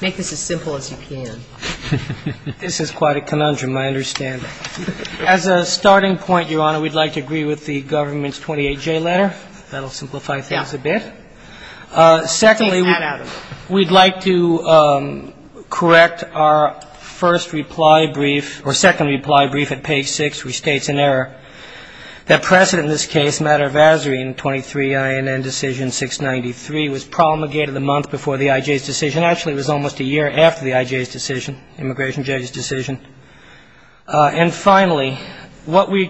Make this as simple as you can. This is quite a conundrum, I understand. As a starting point, Your Honor, we'd like to agree with the government's 28-J letter. That'll simplify things a bit. Secondly, we'd like to correct our first reply brief, or second reply brief at page 6, which states in error that precedent in this case, matter of azure in 23-INN decision 693, was almost a year after the I.J.'s decision, immigration judge's decision. And finally, what we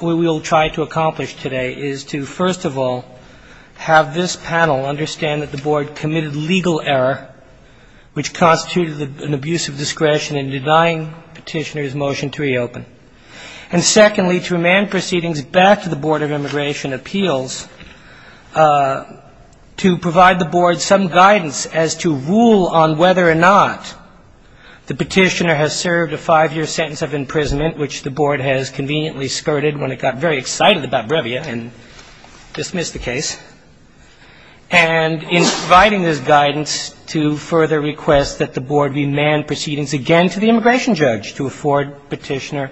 will try to accomplish today is to, first of all, have this panel understand that the Board committed legal error, which constituted an abuse of discretion in denying petitioner's motion to reopen. And secondly, to amend proceedings back to the Board of Immigration Appeals to provide the Board some guidance as to rule on whether or not the petitioner has served a 5-year sentence of imprisonment, which the Board has conveniently skirted when it got very excited about Brevia and dismissed the case, and in providing this guidance to further request that the Board remand proceedings again to the immigration judge to afford petitioner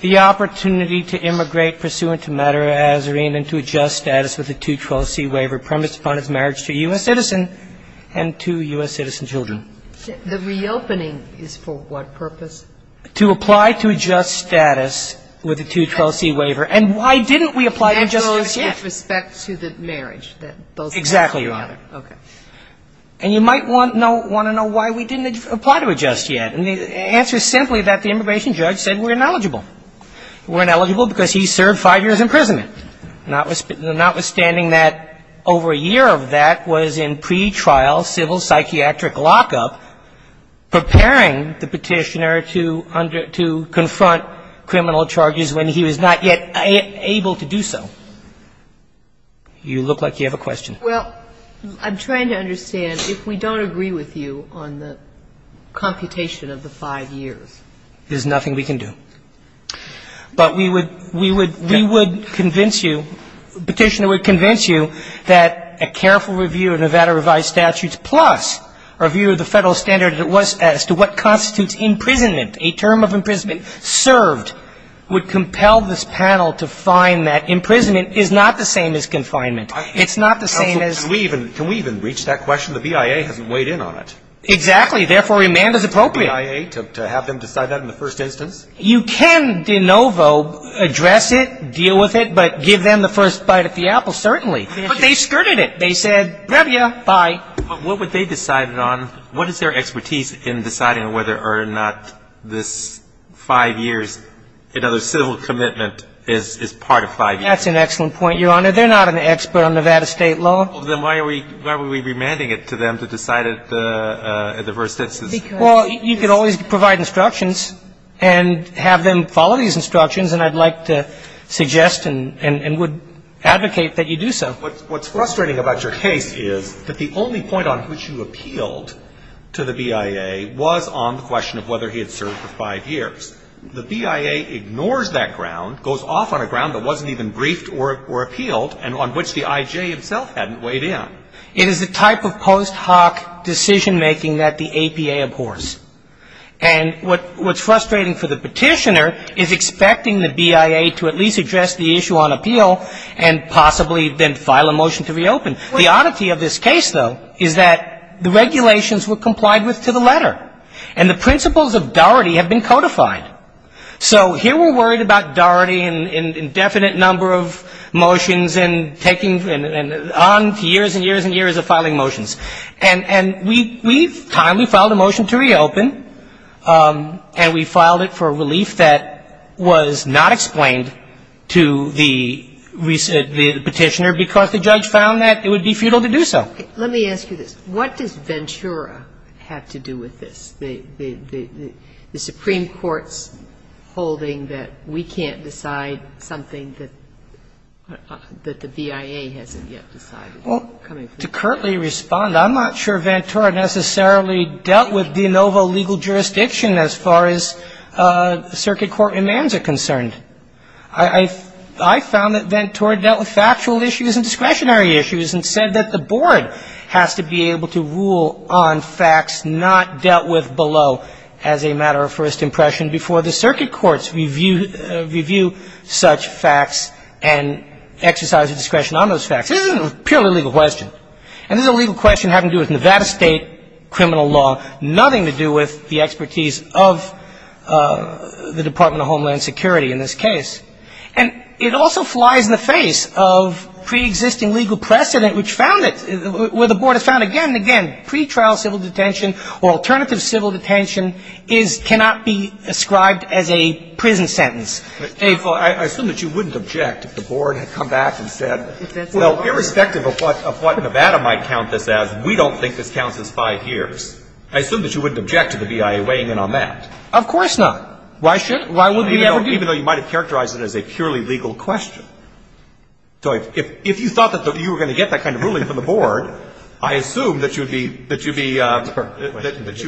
the opportunity to immigrate pursuant to matter of azure in and to adjust status with the 212C waiver premised upon his marriage to a U.S. citizen and two U.S. citizen children. The reopening is for what purpose? To apply to adjust status with the 212C waiver. And why didn't we apply to adjust yet? That goes with respect to the marriage that both men had together. Exactly right. Okay. And you might want to know why we didn't apply to adjust yet. And the answer is simply that the immigration judge said we're ineligible. We're ineligible because he served 5 years imprisonment. Notwithstanding that over a year of that was in pretrial civil psychiatric lockup preparing the petitioner to confront criminal charges when he was not yet able to do so. You look like you have a question. Well, I'm trying to understand if we don't agree with you on the computation of the 5 years. There's nothing we can do. But we would convince you, the petitioner would convince you that a careful review of Nevada revised statutes plus a review of the federal standards as to what constitutes imprisonment, a term of imprisonment served would compel this panel to find that imprisonment is not the same as confinement. It's not the same as Can we even reach that question? The BIA hasn't weighed in on it. Exactly. Therefore, remand is appropriate. To have them decide that in the first instance? You can de novo address it, deal with it, but give them the first bite of the apple, certainly. But they skirted it. They said, grab you, bye. But what would they decide it on? What is their expertise in deciding whether or not this 5 years, another civil commitment is part of 5 years? That's an excellent point, Your Honor. They're not an expert on Nevada state law. Then why are we remanding it to them to decide it in the first instance? Well, you can always provide instructions and have them follow these instructions and I'd like to suggest and would advocate that you do so. What's frustrating about your case is that the only point on which you appealed to the BIA was on the question of whether he had served for 5 years. The BIA ignores that ground, goes off on a ground that wasn't even briefed or appealed and on which the I.J. himself hadn't weighed in. It is the type of post hoc decision making that the APA abhors. And what's frustrating for the petitioner is expecting the BIA to at least address the issue on appeal and possibly then file a motion to reopen. The oddity of this case, though, is that the regulations were complied with to the letter. And the principles of doherty have been codified. So here we're worried about doherty and indefinite number of motions and taking on years and years and years of filing motions. And we've timely filed a motion to reopen and we filed it for a relief that was not explained to the petitioner because the judge found that it would be futile to do so. Let me ask you this. What does Ventura have to do with this? The Supreme Court's holding that we can't decide something that the BIA has to do with. Well, to curtly respond, I'm not sure Ventura necessarily dealt with de novo legal jurisdiction as far as circuit court demands are concerned. I found that Ventura dealt with factual issues and discretionary issues and said that the board has to be able to rule on facts not dealt with below as a matter of first impression before the circuit courts review such facts and exercise a discretion on those facts. This is a purely legal question. And this is a legal question having to do with Nevada State criminal law, nothing to do with the expertise of the Department of Homeland Security in this case. And it also flies in the face of preexisting legal precedent which found it where the board has found again and again pretrial civil detention or alternative civil detention cannot be ascribed as a prison sentence. Well, I assume that you wouldn't object if the board had come back and said, well, irrespective of what Nevada might count this as, we don't think this counts as five years. I assume that you wouldn't object to the BIA weighing in on that. Of course not. Why would we ever do that? Even though you might have characterized it as a purely legal question. So if you thought that you were going to get that kind of ruling from the board, I assume that you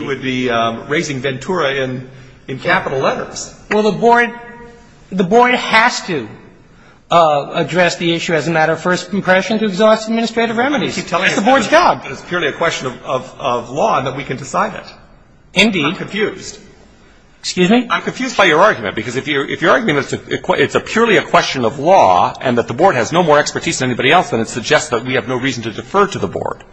would be raising Ventura in capital letters. Well, the board has to address the issue as a matter of first impression to exhaust administrative remedies. It's the board's job. It's purely a question of law and that we can decide it. Indeed. I'm confused. Excuse me? I'm confused by your argument. Because if your argument is it's purely a question of law and that the board has no more expertise than anybody else, then it suggests that we have no reason to defer to the board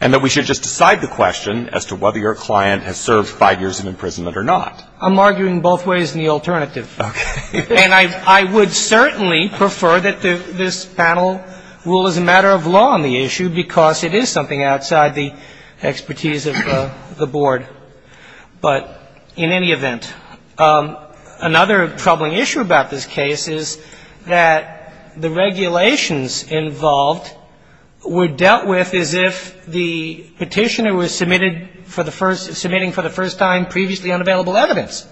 and that we should just decide the question as to whether your client has served five years in imprisonment or not. I'm arguing both ways in the alternative. Okay. And I would certainly prefer that this panel rule as a matter of law on the issue because it is something outside the expertise of the board. But in any event, another troubling issue about this case is that the regulations involved were dealt with as if the Petitioner was submitted for the first – submitting for the first time previously unavailable evidence.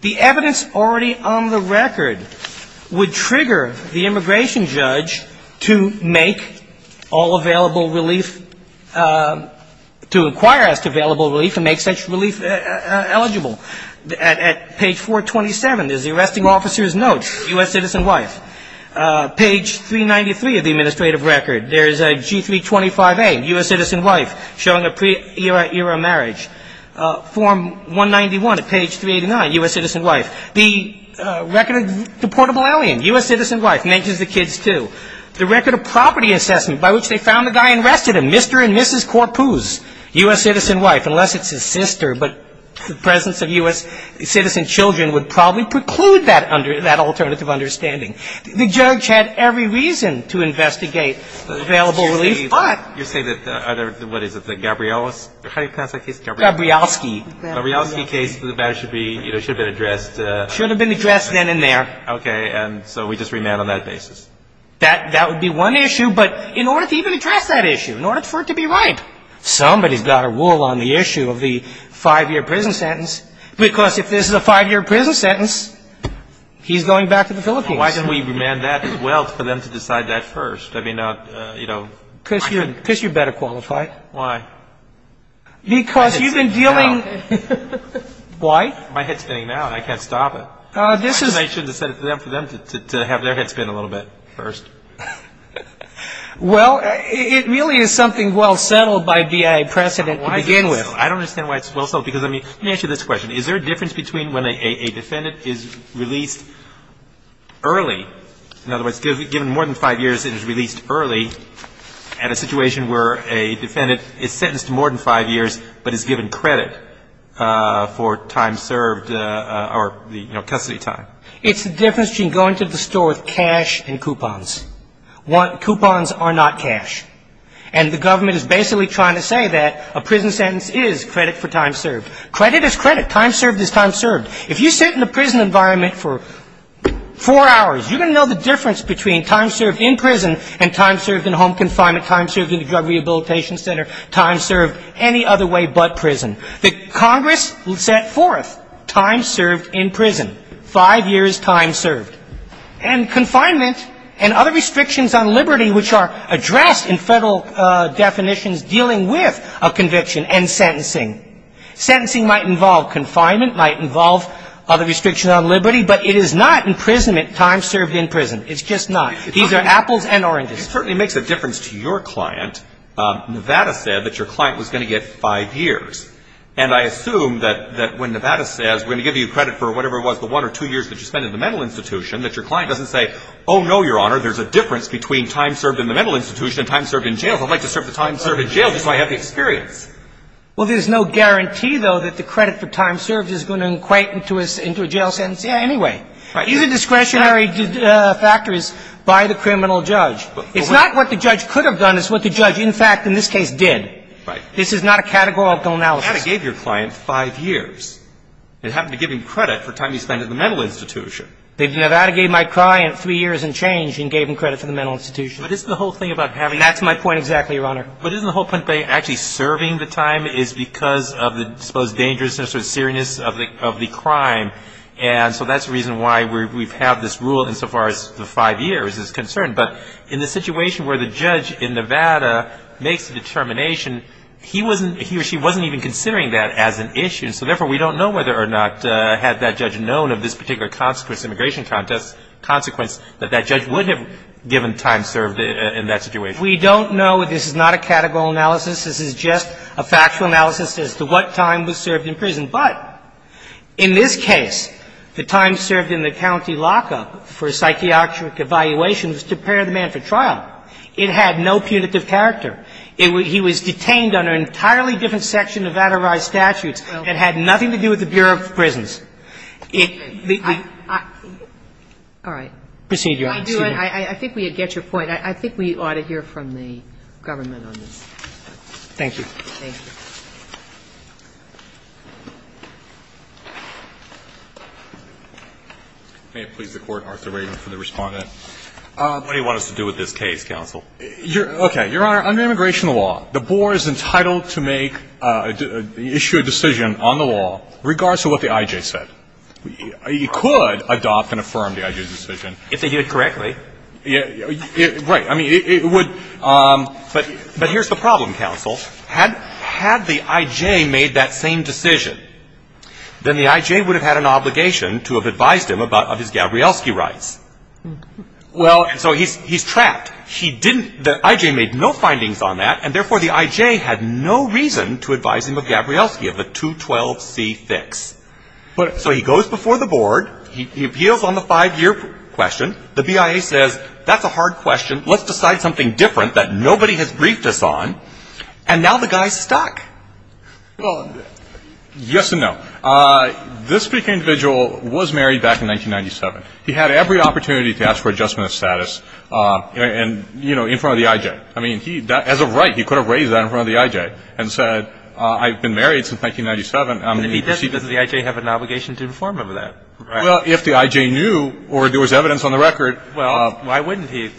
The evidence already on the record would trigger the immigration judge to make all available relief – to inquire as to available relief and make such relief eligible. At page 427, there's the arresting officer's note, U.S. citizen wife. Page 393 of the administrative record, there's a G325A, U.S. citizen wife, showing a pre-era marriage. Form 191 at page 389, U.S. citizen wife. The record of deportable alien, U.S. citizen wife, mentions the kids too. The record of property assessment by which they found the guy and arrested him, Mr. and Mrs. Corpus, U.S. citizen wife, unless it's his sister, but the presence of U.S. citizen children would probably preclude that alternative understanding. The judge had every reason to investigate available relief, but – Mr. Gabrielsky. The Gabrielsky case, that should be – should have been addressed – Should have been addressed then and there. Okay, and so we just remand on that basis? That would be one issue, but in order to even address that issue, in order for it to be right, somebody's got to rule on the issue of the five-year prison sentence, because if this is a five-year prison sentence, he's going back to the Philippines. Why don't we remand that as well for them to decide that first? I mean, you know – Because you're better qualified. Why? Because you've been dealing – My head's spinning now. Why? My head's spinning now, and I can't stop it. This is – I shouldn't have set it for them to have their head spin a little bit first. Well, it really is something well-settled by BIA precedent to begin with. I don't understand why it's well-settled, because, I mean – let me ask you this question. Is there a difference between when a defendant is released early – in other words, given more than five years and is released early at a situation where a defendant is sentenced to more than five years but is given credit for time served or, you know, custody time? It's the difference between going to the store with cash and coupons. Coupons are not cash. And the government is basically trying to say that a prison sentence is credit for time served. Credit is credit. Time served is time served. If you sit in a prison environment for four hours, you're going to know the difference between time served in prison and time served in home confinement, time served in the Drug Rehabilitation Center, time served any other way but prison. The Congress set forth time served in prison. Five years time served. And confinement and other restrictions on liberty which are addressed in federal definitions dealing with a conviction and sentencing. Sentencing might involve confinement, might involve other restrictions on liberty, but it is not imprisonment time served in prison. It's just not. These are apples and oranges. It certainly makes a difference to your client. Nevada said that your client was going to get five years. And I assume that when Nevada says we're going to give you credit for whatever it was, the one or two years that you spent in the mental institution, that your client doesn't say, oh, no, Your Honor, there's a difference between time served in the mental institution and time served in jail. I'd like to serve the time served in jail just so I have the experience. Well, there's no guarantee, though, that the credit for time served is going to equate into a jail sentence anyway. Right. These are discretionary factors by the criminal judge. It's not what the judge could have done. It's what the judge, in fact, in this case, did. Right. This is not a categorical analysis. Nevada gave your client five years. It happened to give him credit for time he spent in the mental institution. Nevada gave my client three years and change and gave him credit for the mental institution. But isn't the whole thing about having the time served? That's my point exactly, Your Honor. But isn't the whole point about actually serving the time is because of the supposed dangerousness or seriousness of the crime? And so that's the reason why we've had this rule insofar as the five years is concerned. But in the situation where the judge in Nevada makes the determination, he wasn't he or she wasn't even considering that as an issue. So, therefore, we don't know whether or not had that judge known of this particular consequence, immigration consequence, that that judge would have given time served in that situation. We don't know. This is not a categorical analysis. This is just a factual analysis as to what time was served in prison. But in this case, the time served in the county lockup for a psychiatric evaluation was to prepare the man for trial. It had no punitive character. He was detained under an entirely different section of vaterized statutes. It had nothing to do with the Bureau of Prisons. It was the... Kagan. All right. Proceed, Your Honor. Excuse me. I think we get your point. I think we ought to hear from the government on this. Thank you. Thank you. May it please the Court, Arthur Reagan for the respondent. What do you want us to do with this case, counsel? Okay. Your Honor, under immigration law, the board is entitled to make, issue a decision on the law regardless of what the I.J. said. You could adopt and affirm the I.J. decision. If they did it correctly. Right. Had the I.J. made that same decision, then the I.J. would have had an obligation to have advised him of his Gabrielski rights. Well, so he's trapped. He didn't... The I.J. made no findings on that, and therefore the I.J. had no reason to advise him of Gabrielski, of the 212C fix. So he goes before the board. He appeals on the five-year question. The BIA says, that's a hard question. Let's decide something different that nobody has briefed us on. And now the guy's stuck. Well, yes and no. This particular individual was married back in 1997. He had every opportunity to ask for adjustment of status. And, you know, in front of the I.J. I mean, he, as a right, he could have raised that in front of the I.J. and said, I've been married since 1997. Does the I.J. have an obligation to inform him of that? Well, if the I.J. knew or there was evidence on the record... Well, why wouldn't he?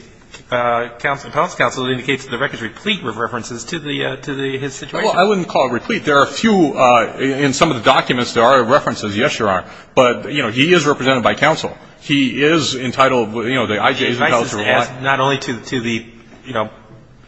Appellant's counsel indicates that the record is replete with references to his situation. Well, I wouldn't call it replete. There are a few, in some of the documents, there are references. Yes, there are. But, you know, he is represented by counsel. He is entitled, you know, the I.J.'s... The advice is not only to the, you know,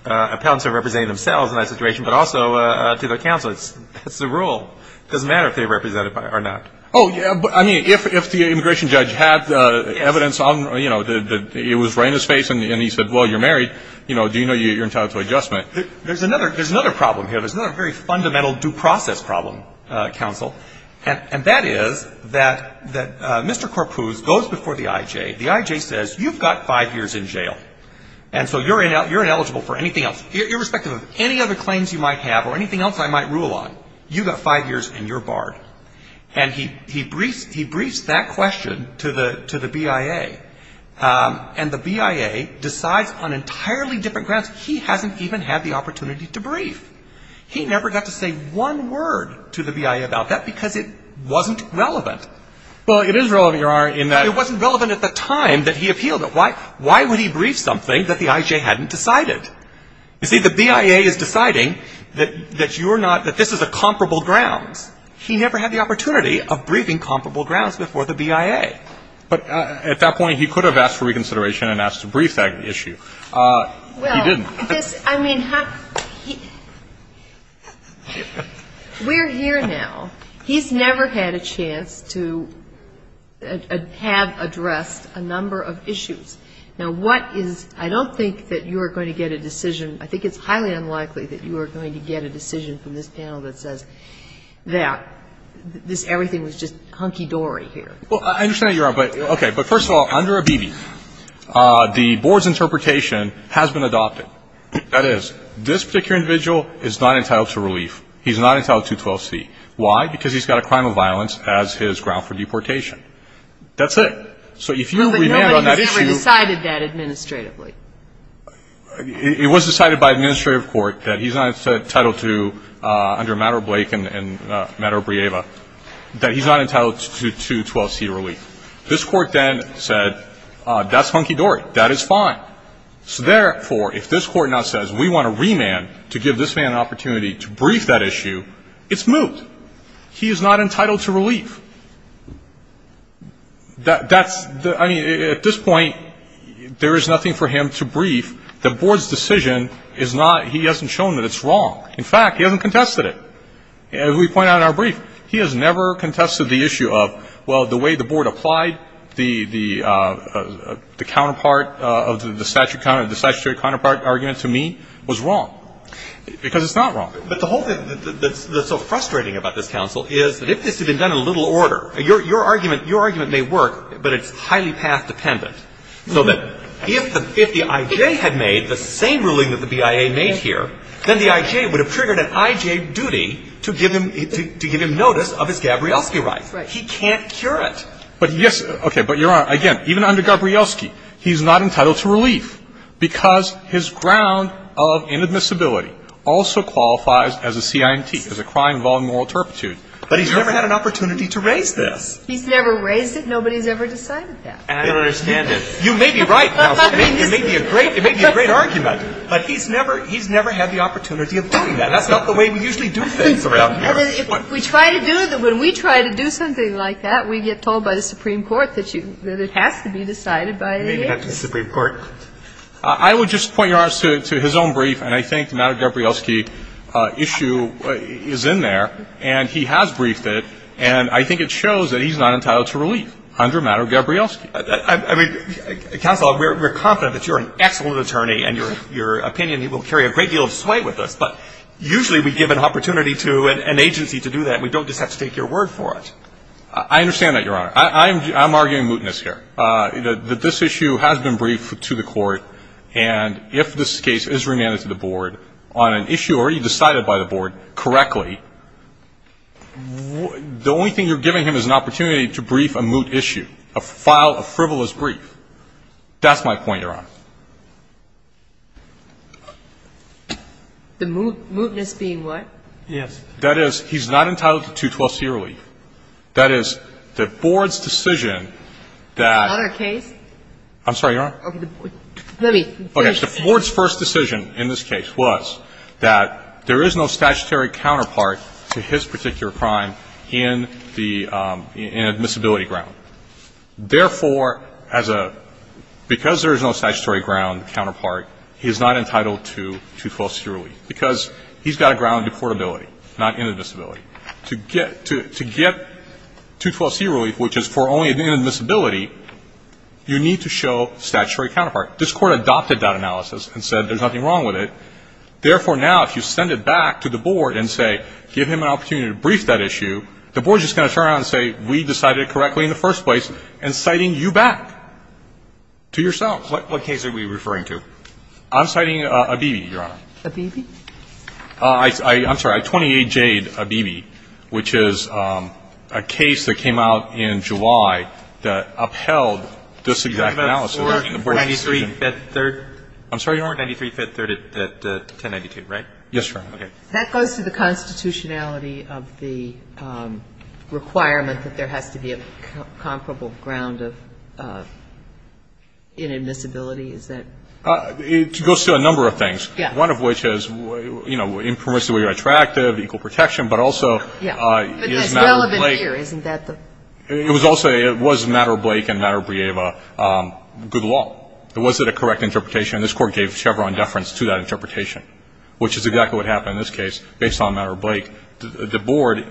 appellants are representing themselves in that situation, but also to their counsel. It's the rule. It doesn't matter if they're represented or not. Oh, yeah, but, I mean, if the immigration judge had evidence on, you know, that it was right in his face and he said, well, you're married, you know, do you know you're entitled to adjustment? There's another problem here. There's another very fundamental due process problem, counsel, and that is that Mr. Karpuz goes before the I.J. The I.J. says, you've got five years in jail, and so you're ineligible for anything else, irrespective of any other claims you might have or anything else I might rule on. You've got five years and you're barred. And he briefs that question to the BIA, and the BIA decides on entirely different grounds. He hasn't even had the opportunity to brief. He never got to say one word to the BIA about that because it wasn't relevant. Well, it is relevant, Your Honor, in that... It wasn't relevant at the time that he appealed it. Why would he brief something that the I.J. hadn't decided? You see, the BIA is deciding that you're not, that this is a comparable grounds. He never had the opportunity of briefing comparable grounds before the BIA. But at that point, he could have asked for reconsideration and asked to brief that issue. He didn't. Well, this, I mean, we're here now. He's never had a chance to have addressed a number of issues. Now, what is, I don't think that you are going to get a decision, I think it's highly unlikely that you are going to get a decision from this panel that says, that this, everything was just hunky-dory here. Well, I understand that, Your Honor. But, okay, but first of all, under Abebe, the board's interpretation has been adopted. That is, this particular individual is not entitled to relief. He's not entitled to 12C. Why? Because he's got a crime of violence as his ground for deportation. That's it. So if you remand on that issue... But nobody has ever decided that administratively. It was decided by administrative court that he's not entitled to, under Maddow-Blake and Maddow-Brieva, that he's not entitled to 12C relief. This court then said, that's hunky-dory. That is fine. So therefore, if this court now says, we want to remand to give this man an opportunity to brief that issue, it's moot. He is not entitled to relief. That's, I mean, at this point, there is nothing for him to brief. The board's decision is not, he hasn't shown that it's wrong. In fact, he hasn't contested it. As we point out in our brief, he has never contested the issue of, well, the way the board applied the counterpart of the statutory counterpart argument to me was wrong. Because it's not wrong. But the whole thing that's so frustrating about this counsel is, that if this had been done in a little order, your argument may work, but it's highly path-dependent. So that if the I.J. had made the same ruling that the BIA made here, then the I.J. would have triggered an I.J. duty to give him notice of his Gabrielski right. He can't cure it. But yes, okay, but Your Honor, again, even under Gabrielski, he's not entitled to relief because his ground of inadmissibility also qualifies as a CINT, as a crime involving moral turpitude. But he's never had an opportunity to raise this. He's never raised it. Nobody's ever decided that. I don't understand it. You may be right, counsel. It may be a great argument. But he's never had the opportunity of doing that. That's not the way we usually do things around here. If we try to do it, when we try to do something like that, we get told by the Supreme Court that it has to be decided by the I.J. Maybe not the Supreme Court. I would just point Your Honor to his own brief, and I think the matter of Gabrielski issue is in there, and he has briefed it. And I think it shows that he's not entitled to relief under a matter of Gabrielski. I mean, counsel, we're confident that you're an excellent attorney and your opinion will carry a great deal of sway with us. But usually we give an opportunity to an agency to do that. We don't just have to take your word for it. I understand that, Your Honor. I'm arguing mootness here. This issue has been briefed to the court, and if this case is remanded to the board on an issue already decided by the board correctly, the only thing you're giving him is an opportunity to brief a moot issue, a frivolous brief. That's my point, Your Honor. The mootness being what? Yes. That is, he's not entitled to 212c relief. That is, the board's decision that... Is that our case? I'm sorry, Your Honor. Let me... Okay. The board's first decision in this case was that there is no statutory counterpart to his particular crime in the admissibility ground. Therefore, because there is no statutory ground counterpart, he is not entitled to 212c relief because he's got a ground to portability, not inadmissibility. To get 212c relief, which is for only inadmissibility, you need to show statutory counterpart. This court adopted that analysis and said there's nothing wrong with it. Therefore, now, if you send it back to the board and say give him an opportunity to brief that issue, the board's just going to turn around and say we decided it correctly in the first place and citing you back to yourselves. What case are we referring to? I'm citing Abebe, Your Honor. Abebe? I'm sorry, 28 Jade, Abebe, which is a case that came out in July that upheld this exact analysis. You're talking about 493, 5th, 3rd? I'm sorry, Your Honor? 493, 5th, 3rd at 1092, right? Yes, Your Honor. Okay. That goes to the constitutionality of the requirement that there has to be a comparable ground of inadmissibility? Is that? It goes to a number of things. Yeah. One of which is, you know, impermissibly attractive, equal protection, but also is not related. But that's relevant here. Isn't that the? It was also, it was Matter Blake and Matter Brieva good law. Was it a correct interpretation? This Court gave Chevron deference to that interpretation, which is exactly what happened in this case based on Matter Blake. The Board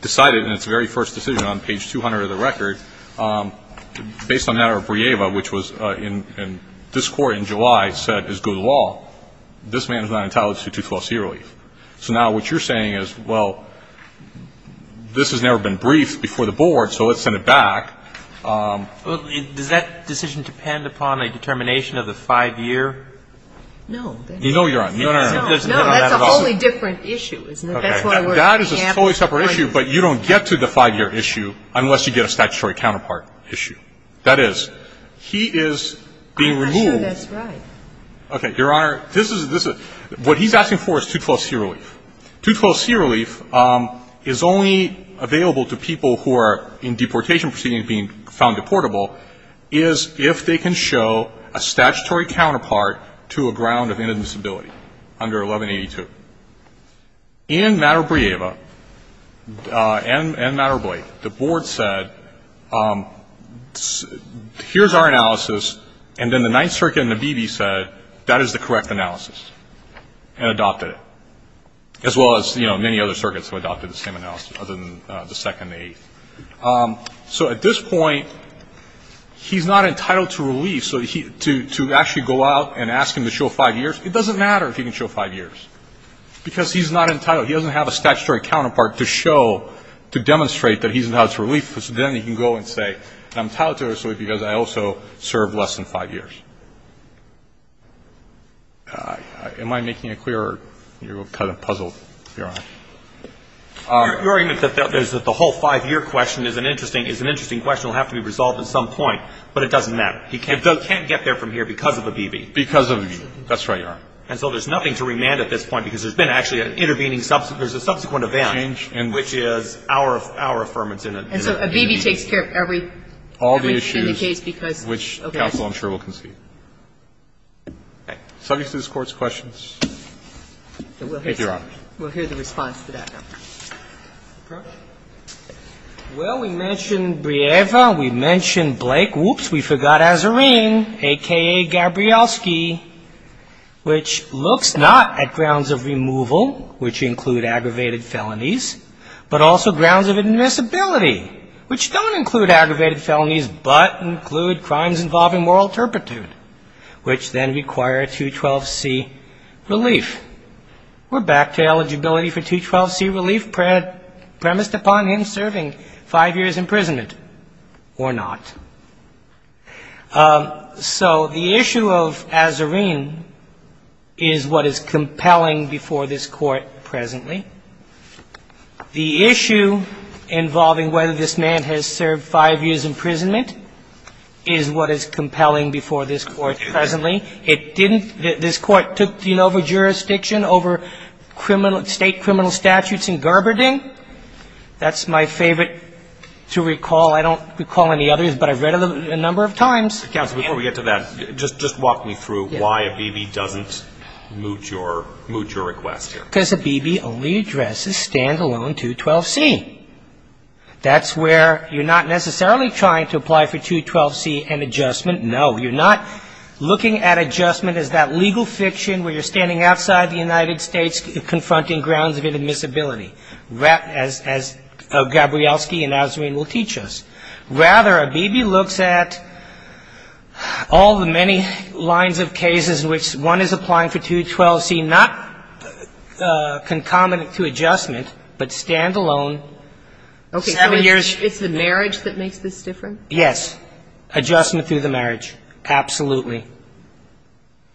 decided in its very first decision on page 200 of the record, based on Matter Brieva, which was in this Court in July, said is good law, this man is not entitled to 212C relief. So now what you're saying is, well, this has never been briefed before the Board, so let's send it back. Does that decision depend upon a determination of the five-year? No. No, Your Honor. No, that's a wholly different issue, isn't it? That is a totally separate issue, but you don't get to the five-year issue unless you get a statutory counterpart issue. That is, he is being removed. I'm not sure that's right. Okay, Your Honor, this is, what he's asking for is 212C relief. 212C relief is only available to people who are in deportation proceedings being found deportable, is if they can show a statutory counterpart to a ground of inadmissibility under 1182. In Matter Brieva and Matter Blake, the Board said, here's our analysis, and then the Ninth Circuit and the BB said, that is the correct analysis, and adopted it, as well as, you know, many other circuits have adopted the same analysis other than the Second and Eighth. So at this point, he's not entitled to relief, so to actually go out and ask him to show five years, it doesn't matter if he can show five years, because he's not entitled. He doesn't have a statutory counterpart to show, to demonstrate that he's entitled to relief, because then he can go and say, and I'm entitled to it, because I also served less than five years. Am I making it clear, or are you kind of puzzled? Your Honor. Your argument is that the whole five-year question is an interesting question, will have to be resolved at some point, but it doesn't matter. He can't get there from here because of a BB. Because of a BB. That's right, Your Honor. And so there's nothing to remand at this point, because there's been actually an intervening, there's a subsequent event, which is our affirmation. And so a BB takes care of every case, because, okay. All the issues, which counsel, I'm sure, will concede. Okay. Subjects to this Court's questions? We'll hear the response to that now. Well, we mentioned Brieva, we mentioned Blake, whoops, we forgot Azzarine, a.k.a. Gabrielski, which looks not at grounds of removal, which include aggravated felonies, but also grounds of admissibility. Which don't include aggravated felonies, but include crimes involving moral turpitude, which then require 212C relief. We're back to eligibility for 212C relief premised upon him serving five years' imprisonment, or not. So the issue of Azzarine is what is compelling before this Court presently. The issue involving whether this man has served five years' imprisonment is what is compelling before this Court presently. It didn't, this Court took, you know, over jurisdiction, over criminal, state criminal statutes in Gerberding. That's my favorite to recall. I don't recall any others, but I've read them a number of times. Counsel, before we get to that, just walk me through why Abebe doesn't moot your request here. Because Abebe only addresses stand-alone 212C. That's where you're not necessarily trying to apply for 212C and adjustment, no, you're not looking at adjustment as that legal fiction where you're standing outside the United States confronting grounds of admissibility, as Gabrielski and Azzarine will teach us. Rather, Abebe looks at all the many lines of cases in which one is applying for 212C, not concomitant to adjustment, but stand-alone. Okay, so it's the marriage that makes this different? Yes. Adjustment through the marriage. Absolutely.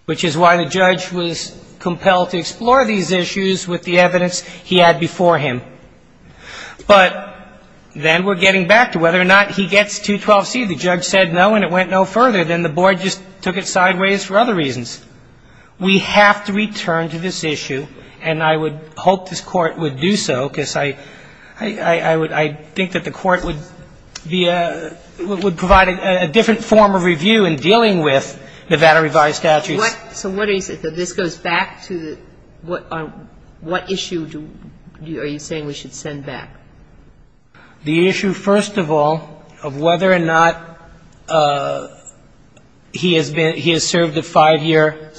Which is why the judge was compelled to explore these issues with the evidence he had before him. But then we're getting back to whether or not he gets 212C. The judge said no and it went no further. Then the Board just took it sideways for other reasons. We have to return to this issue and I would hope this Court would do so because I I would I think that the Court be a would provide a different form of review in dealing with Nevada revised statutes. What so what is it that this goes back to what what issue are you saying we should send back? The issue, first of all, of whether or not he has been he has served a five-year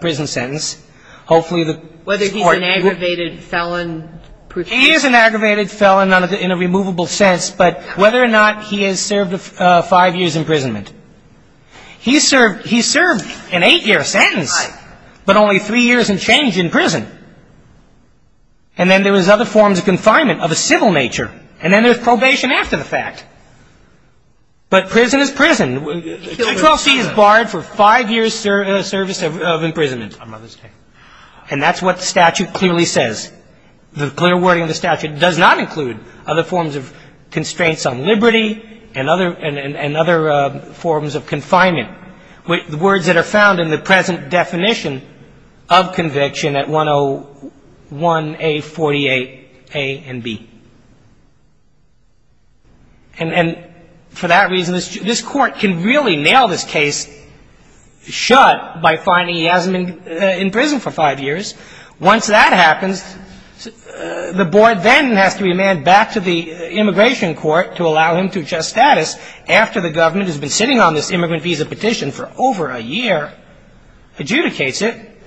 prison sentence. Hopefully the Whether he's an aggravated felon He is an aggravated felon in a removable sense but whether or not he has served five years imprisonment. He served he served an eight-year sentence but only three years and change in prison. And then there was other forms of confinement of a civil nature. And then there's probation after the fact. But prison is prison. 212C is barred for five years service of imprisonment on Mother's Day. And that's what the statute clearly says. The clear wording of the statute does not include other forms of constraints on liberty and other and other forms of confinement. The words that are found in the present definition of conviction at 101A48A and B. And for that reason this court can really nail this case shut by finding he hasn't been in prison for five years. Once that happens the board then has to remand back to the immigration court to allow him to adjust status after the government has been sitting on this immigrant visa petition for over a year adjudicates it.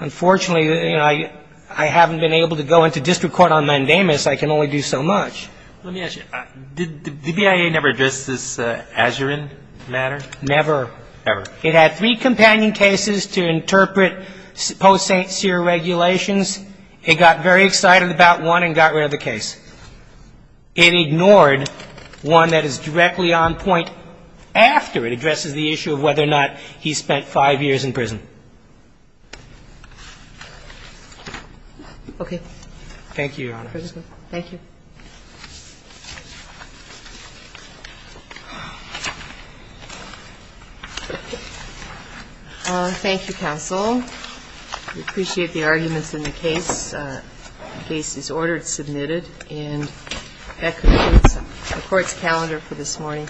Unfortunately I haven't been able to go into district court on mandamus. I can only do so much. Let me ask you did the BIA never address this Azzurin matter? Never. Ever. It had three companion cases to interpret post-St. Cyr regulations. It got very excited about one and got rid of the case. It ignored one that is directly on point after it addresses the issue of whether or not he spent five years in prison. Okay. Thank you, Your Honor. Thank you, counsel. We appreciate the arguments in the case. The case is ordered and submitted and that concludes the court's calendar for this morning.